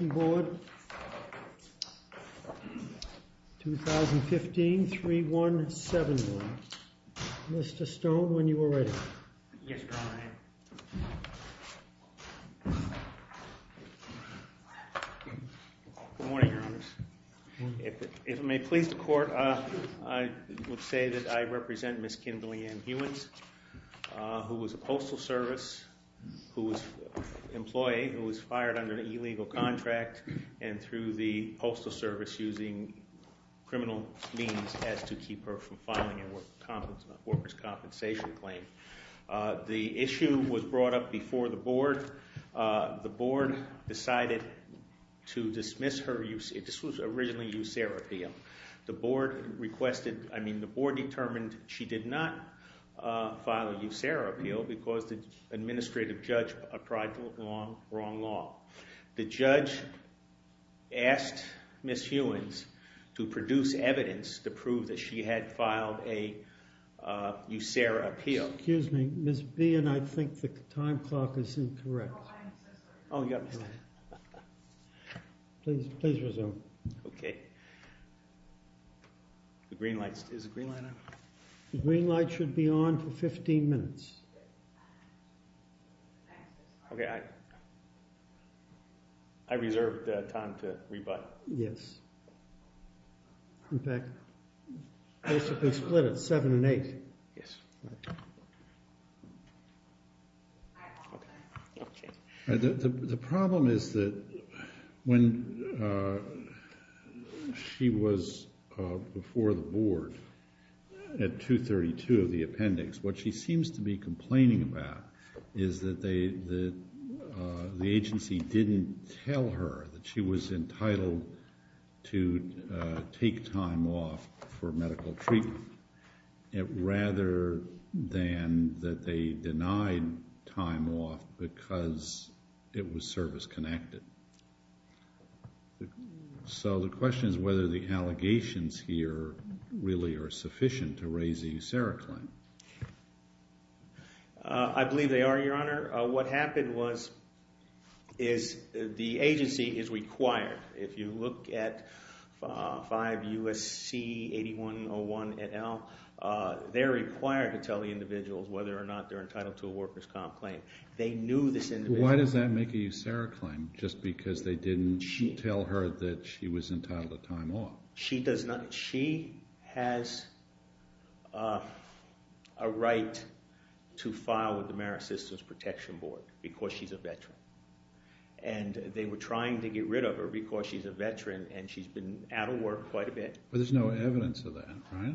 Board, 2015 3171. Mr. Stone, when you are ready. Yes, Your Honor. Good morning, Your Honor. If it may please the Court, I would say that I represent Ms. Kimberly Ann Hewins, who was a postal service employee who was fired under an illegal contract and through the postal service using criminal means as to keep her from filing a workers' compensation claim. The issue was brought up before the Board. The Board decided to dismiss her. This was originally a USERRA appeal. The Board requested, I mean, the Board determined she did not file a USERRA appeal because the administrative judge applied the wrong law. The judge asked Ms. Hewins to produce evidence to prove that she had filed a USERRA appeal. Excuse me, Ms. Behan, I think the time clock is incorrect. Oh, I understand. Please resume. Okay. The green light, is the green light on? The green light should be on for 15 minutes. Okay, I reserved time to rebut. Yes. In fact, basically split it seven and eight. Yes. The problem is that when she was before the Board at 232 of the appendix, what she seems to be complaining about is that the agency didn't tell her that she was entitled to take time off for medical treatment, rather than that they denied time off because it was service-connected. So the question is whether the allegations here really are sufficient to raise a USERRA claim. I believe they are, Your Honor. What happened was is the agency is required, if you look at 5 U.S.C. 8101 et al., they're required to tell the individuals whether or not they're entitled to a workers' comp claim. They knew this individual. Why does that make a USERRA claim, just because they didn't tell her that she was entitled to time off? She has a right to file with the Merit Systems Protection Board because she's a veteran. And they were trying to get rid of her because she's a veteran and she's been out of work quite a bit. But there's no evidence of that, right?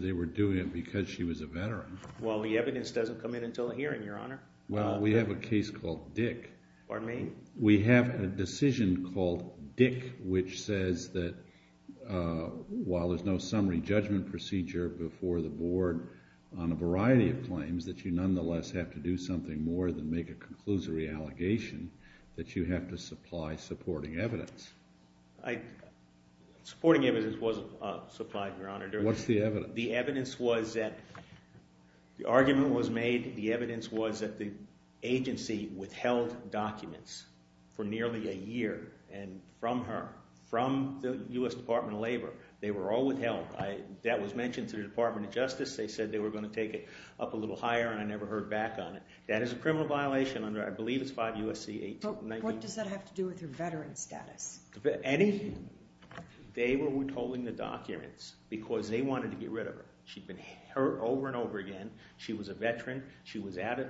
They were doing it because she was a veteran. Well, the evidence doesn't come in until a hearing, Your Honor. Well, we have a case called Dick. Pardon me? We have a decision called Dick which says that while there's no summary judgment procedure before the board on a variety of claims, that you nonetheless have to do something more than make a conclusory allegation, that you have to supply supporting evidence. Supporting evidence wasn't supplied, Your Honor. What's the evidence? The evidence was that the argument was made. The evidence was that the agency withheld documents for nearly a year from her, from the U.S. Department of Labor. They were all withheld. That was mentioned to the Department of Justice. They said they were going to take it up a little higher, and I never heard back on it. That is a criminal violation under, I believe it's 5 U.S.C. 1819. But what does that have to do with her veteran status? They were withholding the documents because they wanted to get rid of her. She'd been hurt over and over again. She was a veteran. She was out of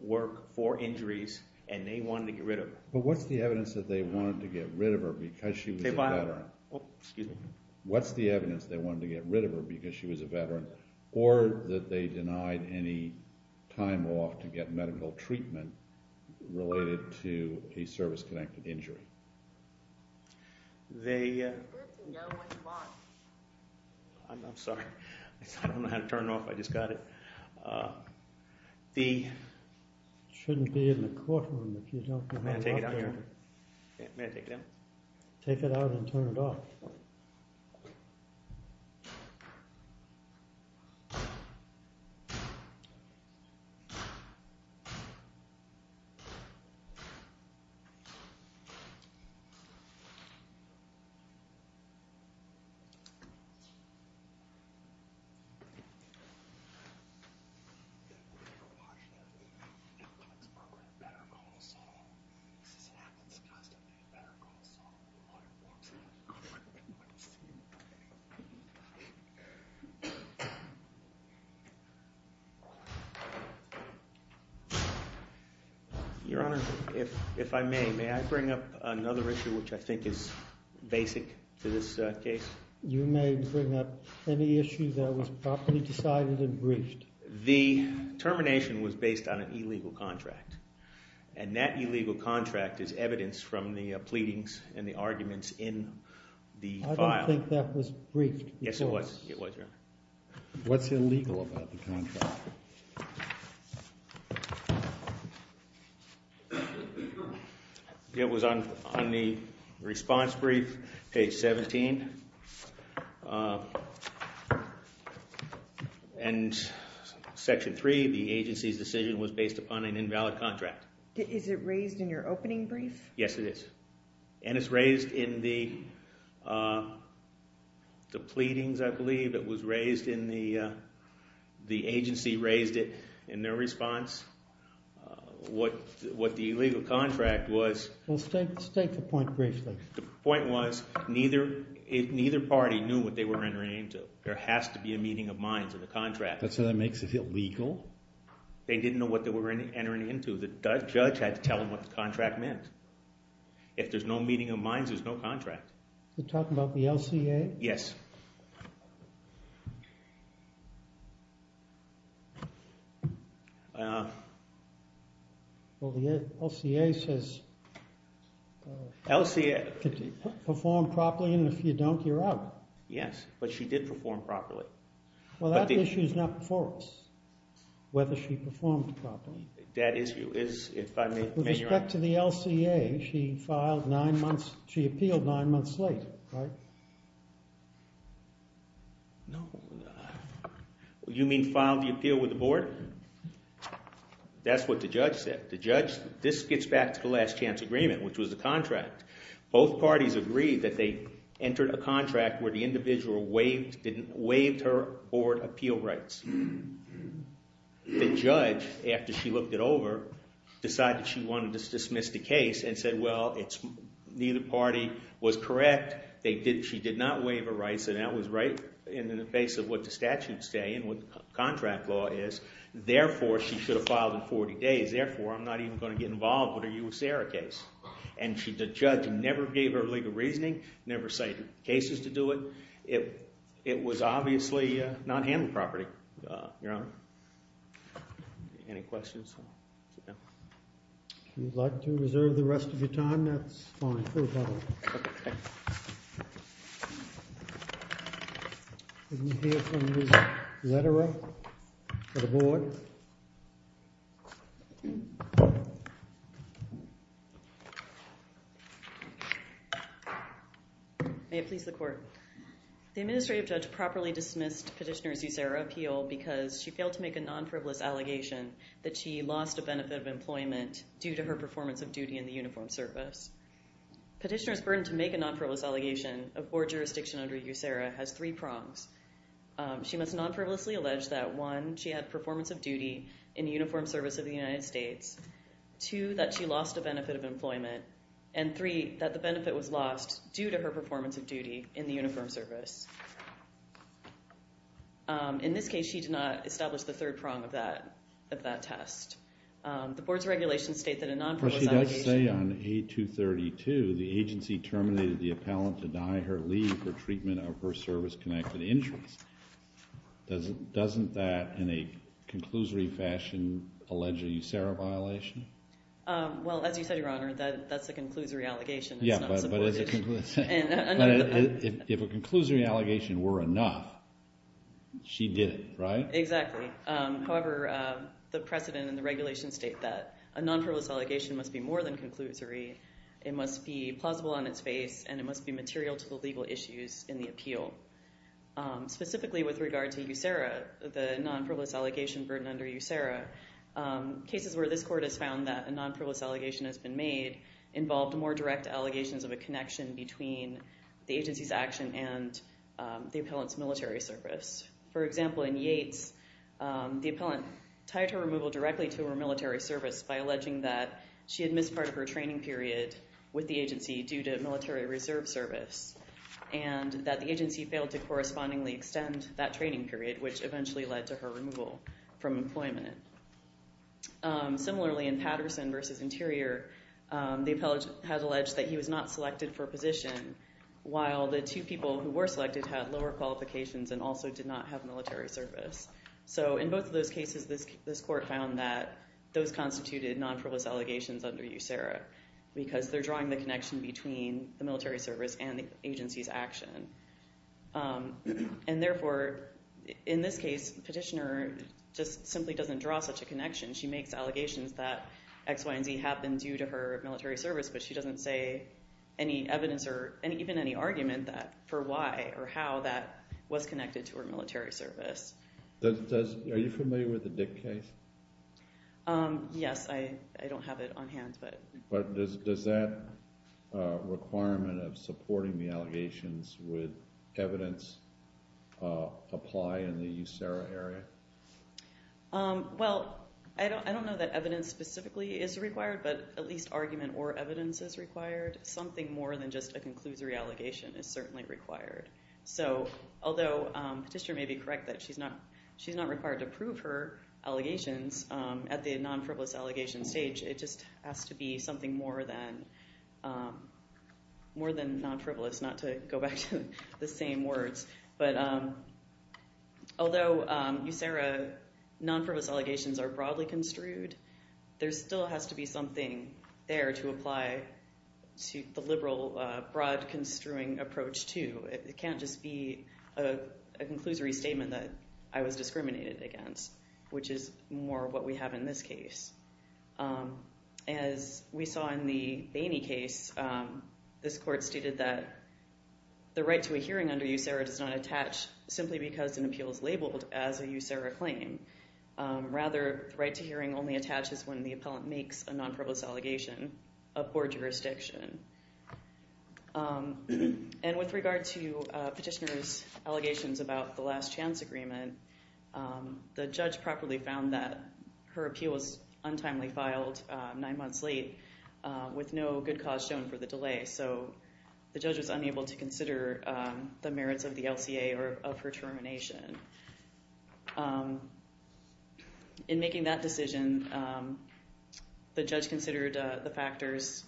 work for injuries, and they wanted to get rid of her. But what's the evidence that they wanted to get rid of her because she was a veteran? Excuse me? What's the evidence they wanted to get rid of her because she was a veteran or that they denied any time off to get medical treatment related to a service-connected injury? The… I'm sorry. I don't know how to turn it off. I just got it. The… It shouldn't be in the courtroom if you don't know how to turn it off. May I take it out here? May I take it out? Take it out and turn it off. Thank you. Your Honor, if I may. May I bring up another issue which I think is basic to this case? You may bring up any issue that was properly decided and briefed. The termination was based on an illegal contract, and that illegal contract is evidence from the pleadings and the arguments in the file. I don't think that was briefed. Yes, it was. It was, Your Honor. What's illegal about the contract? It was on the response brief, page 17. And Section 3, the agency's decision, was based upon an invalid contract. Is it raised in your opening brief? Yes, it is. And it's raised in the pleadings, I believe. It was raised in the… The agency raised it in their response. What the illegal contract was… Well, state the point briefly. The point was neither party knew what they were entering into. There has to be a meeting of minds in the contract. So that makes it illegal? They didn't know what they were entering into. The judge had to tell them what the contract meant. If there's no meeting of minds, there's no contract. You're talking about the LCA? Yes. Well, the LCA says perform properly, and if you don't, you're out. Yes, but she did perform properly. Well, that issue is not before us, whether she performed properly. That issue is, if I may… With respect to the LCA, she appealed nine months late, right? You mean filed the appeal with the board? That's what the judge said. This gets back to the last chance agreement, which was the contract. Both parties agreed that they entered a contract where the individual waived her board appeal rights. The judge, after she looked it over, decided she wanted to dismiss the case and said, well, neither party was correct. She did not waive her rights, and that was right in the face of what the statutes say and what the contract law is. Therefore, she should have filed in 40 days. Therefore, I'm not even going to get involved with a USARA case. And the judge never gave her legal reasoning, never cited cases to do it. It was obviously not handled properly, Your Honor. Any questions? If you'd like to reserve the rest of your time, that's fine. Okay. Did we hear from Ms. Lederer for the board? May it please the Court. The administrative judge properly dismissed Petitioner's USARA appeal because she failed to make a non-frivolous allegation that she lost a benefit of employment due to her performance of duty in the uniform service. Petitioner's burden to make a non-frivolous allegation of board jurisdiction under USARA has three prongs. She must non-frivolously allege that, one, she had performance of duty in the uniform service of the United States, two, that she lost a benefit of employment, and three, that the benefit was lost due to her performance of duty in the uniform service. In this case, she did not establish the third prong of that test. The board's regulations state that a non-frivolous allegation... But she does say on A232, the agency terminated the appellant to deny her leave for treatment of her service-connected injuries. Doesn't that, in a conclusory fashion, allege a USARA violation? Well, as you said, Your Honor, that's a conclusory allegation. Yeah, but if a conclusory allegation were enough, she did it, right? Exactly. However, the precedent and the regulations state that a non-frivolous allegation must be more than conclusory. It must be plausible on its face, and it must be material to the legal issues in the appeal. Specifically with regard to USARA, the non-frivolous allegation burden under USARA, cases where this court has found that a non-frivolous allegation has been made involved more direct allegations of a connection between the agency's action and the appellant's military service. For example, in Yates, the appellant tied her removal directly to her military service by alleging that she had missed part of her training period with the agency due to military reserve service, and that the agency failed to correspondingly extend that training period, which eventually led to her removal from employment. Similarly, in Patterson v. Interior, the appellant had alleged that he was not selected for a position, while the two people who were selected had lower qualifications and also did not have military service. So in both of those cases, this court found that those constituted non-frivolous allegations under USARA, because they're drawing the connection between the military service and the agency's action. And therefore, in this case, the petitioner just simply doesn't draw such a connection. She makes allegations that X, Y, and Z have been due to her military service, but she doesn't say any evidence or even any argument for why or how that was connected to her military service. Are you familiar with the Dick case? Yes, I don't have it on hand. Does that requirement of supporting the allegations with evidence apply in the USARA area? Well, I don't know that evidence specifically is required, but at least argument or evidence is required. Something more than just a conclusory allegation is certainly required. So although the petitioner may be correct that she's not required to prove her allegations at the non-frivolous allegation stage, it just has to be something more than non-frivolous, not to go back to the same words. But although USARA non-frivolous allegations are broadly construed, there still has to be something there to apply to the liberal broad construing approach too. It can't just be a conclusory statement that I was discriminated against, which is more what we have in this case. As we saw in the Bainey case, this court stated that the right to a hearing under USARA does not attach simply because an appeal is labeled as a USARA claim. Rather, the right to hearing only attaches when the appellant makes a non-frivolous allegation of board jurisdiction. And with regard to petitioner's allegations about the last chance agreement, the judge properly found that her appeal was untimely filed nine months late with no good cause shown for the delay. So the judge was unable to consider the merits of the LCA or of her termination. In making that decision, the judge considered the factors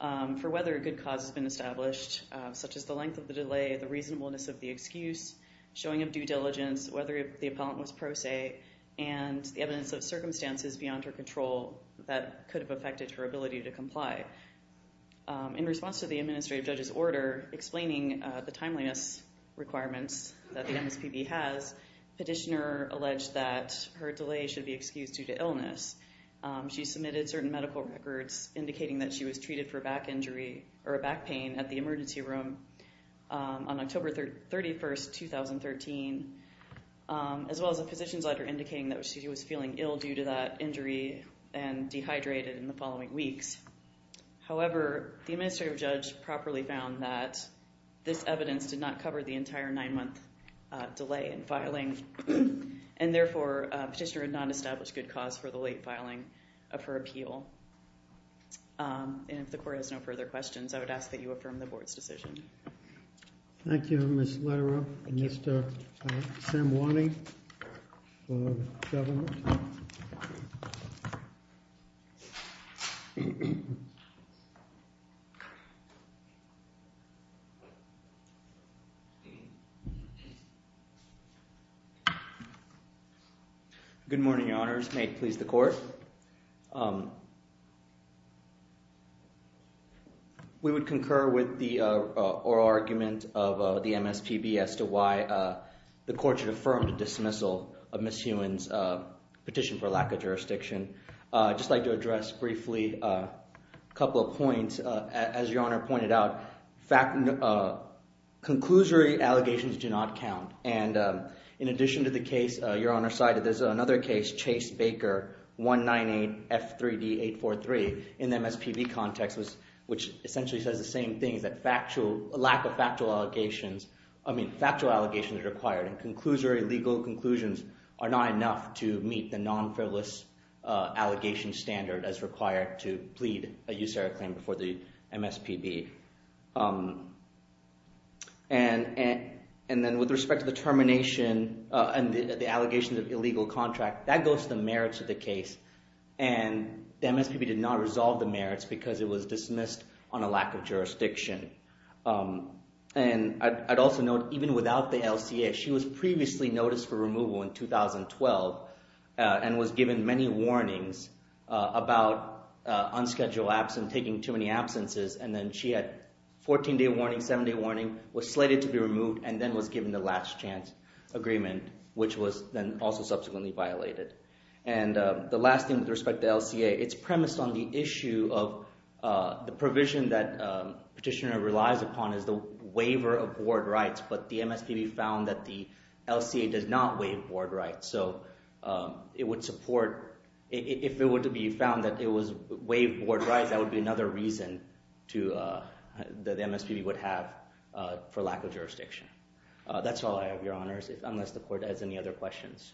for whether a good cause has been established, such as the length of the delay, the reasonableness of the excuse, showing of due diligence, whether the appellant was pro se, and the evidence of circumstances beyond her control that could have affected her ability to comply. In response to the administrative judge's order explaining the timeliness requirements that the MSPB has, petitioner alleged that her delay should be excused due to illness. She submitted certain medical records indicating that she was treated for a back injury or a back pain at the emergency room on October 31, 2013, as well as a physician's letter indicating that she was feeling ill due to that injury and dehydrated in the following weeks. However, the administrative judge properly found that this evidence did not cover the entire nine-month delay in filing, and therefore petitioner had not established good cause for the late filing of her appeal. And if the court has no further questions, I would ask that you affirm the board's decision. Thank you, Ms. Lara and Mr. Samwani for government. Good morning, your honors. May it please the court. We would concur with the oral argument of the MSPB as to why the court should affirm the dismissal of Ms. Heumann's petition for lack of jurisdiction. I'd just like to address briefly a couple of points. As your honor pointed out, conclusory allegations do not count, and in addition to the case your honor cited, there's another case, Chase-Baker 198F3D843, in the MSPB context, which essentially says the same thing, that lack of factual allegations is required, and conclusory legal conclusions are not enough to meet the non-frivolous allegation standard as required to plead a use-error claim before the MSPB. And then with respect to the termination and the allegations of illegal contract, that goes to the merits of the case, and the MSPB did not resolve the merits because it was dismissed on a lack of jurisdiction. And I'd also note, even without the LCA, she was previously noticed for removal in 2012 and was given many warnings about unscheduled absence, taking too many absences, and then she had 14-day warning, 7-day warning, was slated to be removed, and then was given the last chance agreement, which was then also subsequently violated. And the last thing with respect to the LCA, it's premised on the issue of the provision that petitioner relies upon is the waiver of board rights, but the MSPB found that the LCA does not waive board rights, so it would support, if it were to be found that it was waived board rights, that would be another reason that the MSPB would have for lack of jurisdiction. That's all I have, Your Honors, unless the Court has any other questions.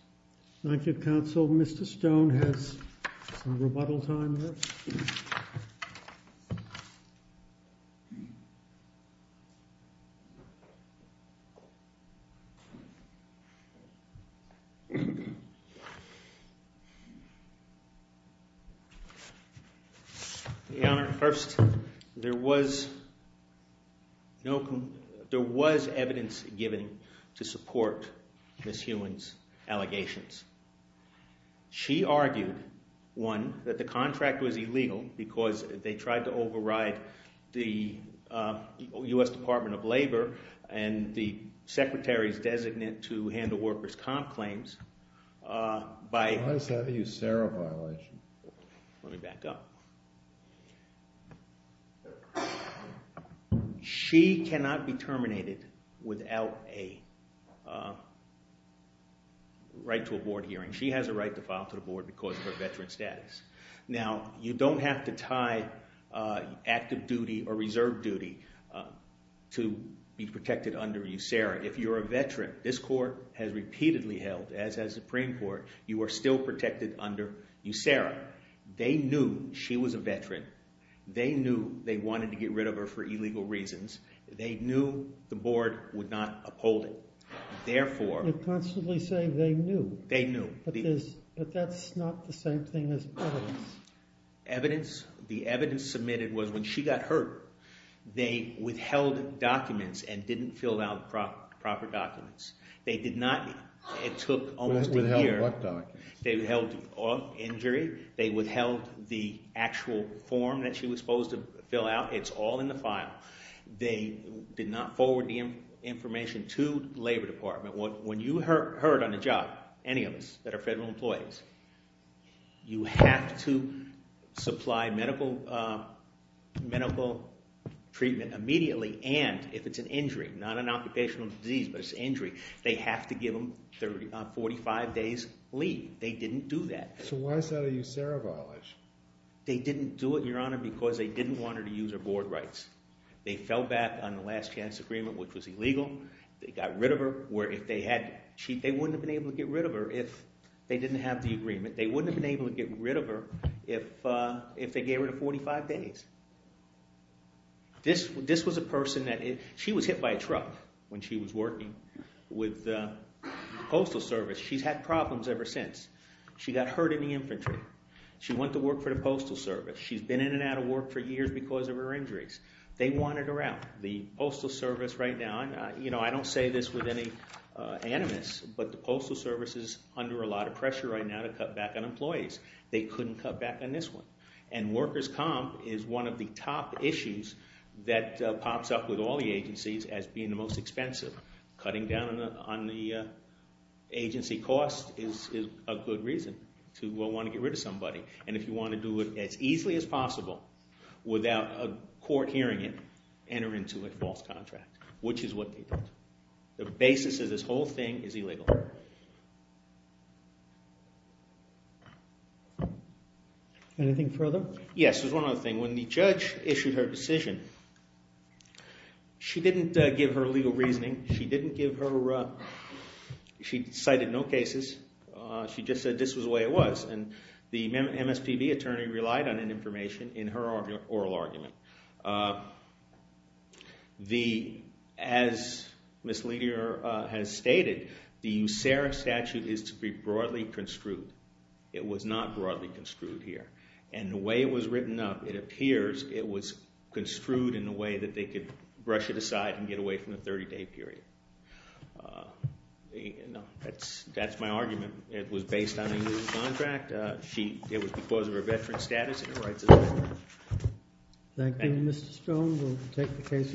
Thank you, Counsel. Mr. Stone has some rebuttal time left. Your Honor, first, there was evidence given to support Ms. Heumann's allegations. She argued, one, that the contract was illegal because they tried to override the U.S. Department of Labor and the Secretary's designate to handle workers' comp claims by— Why is that a USARA violation? Let me back up. She cannot be terminated without a right to a board hearing. She has a right to file to the board because of her veteran status. Now, you don't have to tie active duty or reserve duty to be protected under USARA. If you're a veteran, this Court has repeatedly held, as has the Supreme Court, you are still protected under USARA. They knew she was a veteran. They knew they wanted to get rid of her for illegal reasons. They knew the board would not uphold it. Therefore— You're constantly saying they knew. They knew. But that's not the same thing as evidence. Evidence? The evidence submitted was when she got hurt, they withheld documents and didn't fill out proper documents. They did not—it took almost a year. They withheld what documents? They withheld injury. They withheld the actual form that she was supposed to fill out. It's all in the file. They did not forward the information to the Labor Department. When you hurt on a job, any of us that are federal employees, you have to supply medical treatment immediately. And if it's an injury, not an occupational disease, but it's an injury, they have to give them 45 days leave. They didn't do that. So why is that a USARA violation? They didn't do it, Your Honor, because they didn't want her to use her board rights. They fell back on the last chance agreement, which was illegal. They got rid of her, where if they had—they wouldn't have been able to get rid of her if they didn't have the agreement. They wouldn't have been able to get rid of her if they gave her the 45 days. This was a person that—she was hit by a truck when she was working with the Postal Service. She's had problems ever since. She got hurt in the infantry. She went to work for the Postal Service. She's been in and out of work for years because of her injuries. They wanted her out. The Postal Service right now—I don't say this with any animus, but the Postal Service is under a lot of pressure right now to cut back on employees. They couldn't cut back on this one. And workers' comp is one of the top issues that pops up with all the agencies as being the most expensive. Cutting down on the agency cost is a good reason to want to get rid of somebody. And if you want to do it as easily as possible without a court hearing it, enter into a false contract, which is what they did. The basis of this whole thing is illegal. Anything further? Yes, there's one other thing. When the judge issued her decision, she didn't give her legal reasoning. She didn't give her—she cited no cases. She just said this was the way it was. And the MSPB attorney relied on that information in her oral argument. As Ms. Liddy has stated, the USARA statute is to be broadly construed. It was not broadly construed here. And the way it was written up, it appears it was construed in a way that they could brush it aside and get away from the 30-day period. That's my argument. It was based on a USARA contract. It was because of her veteran status and her rights as a veteran. Thank you, Mr. Stone. We'll take the case under review.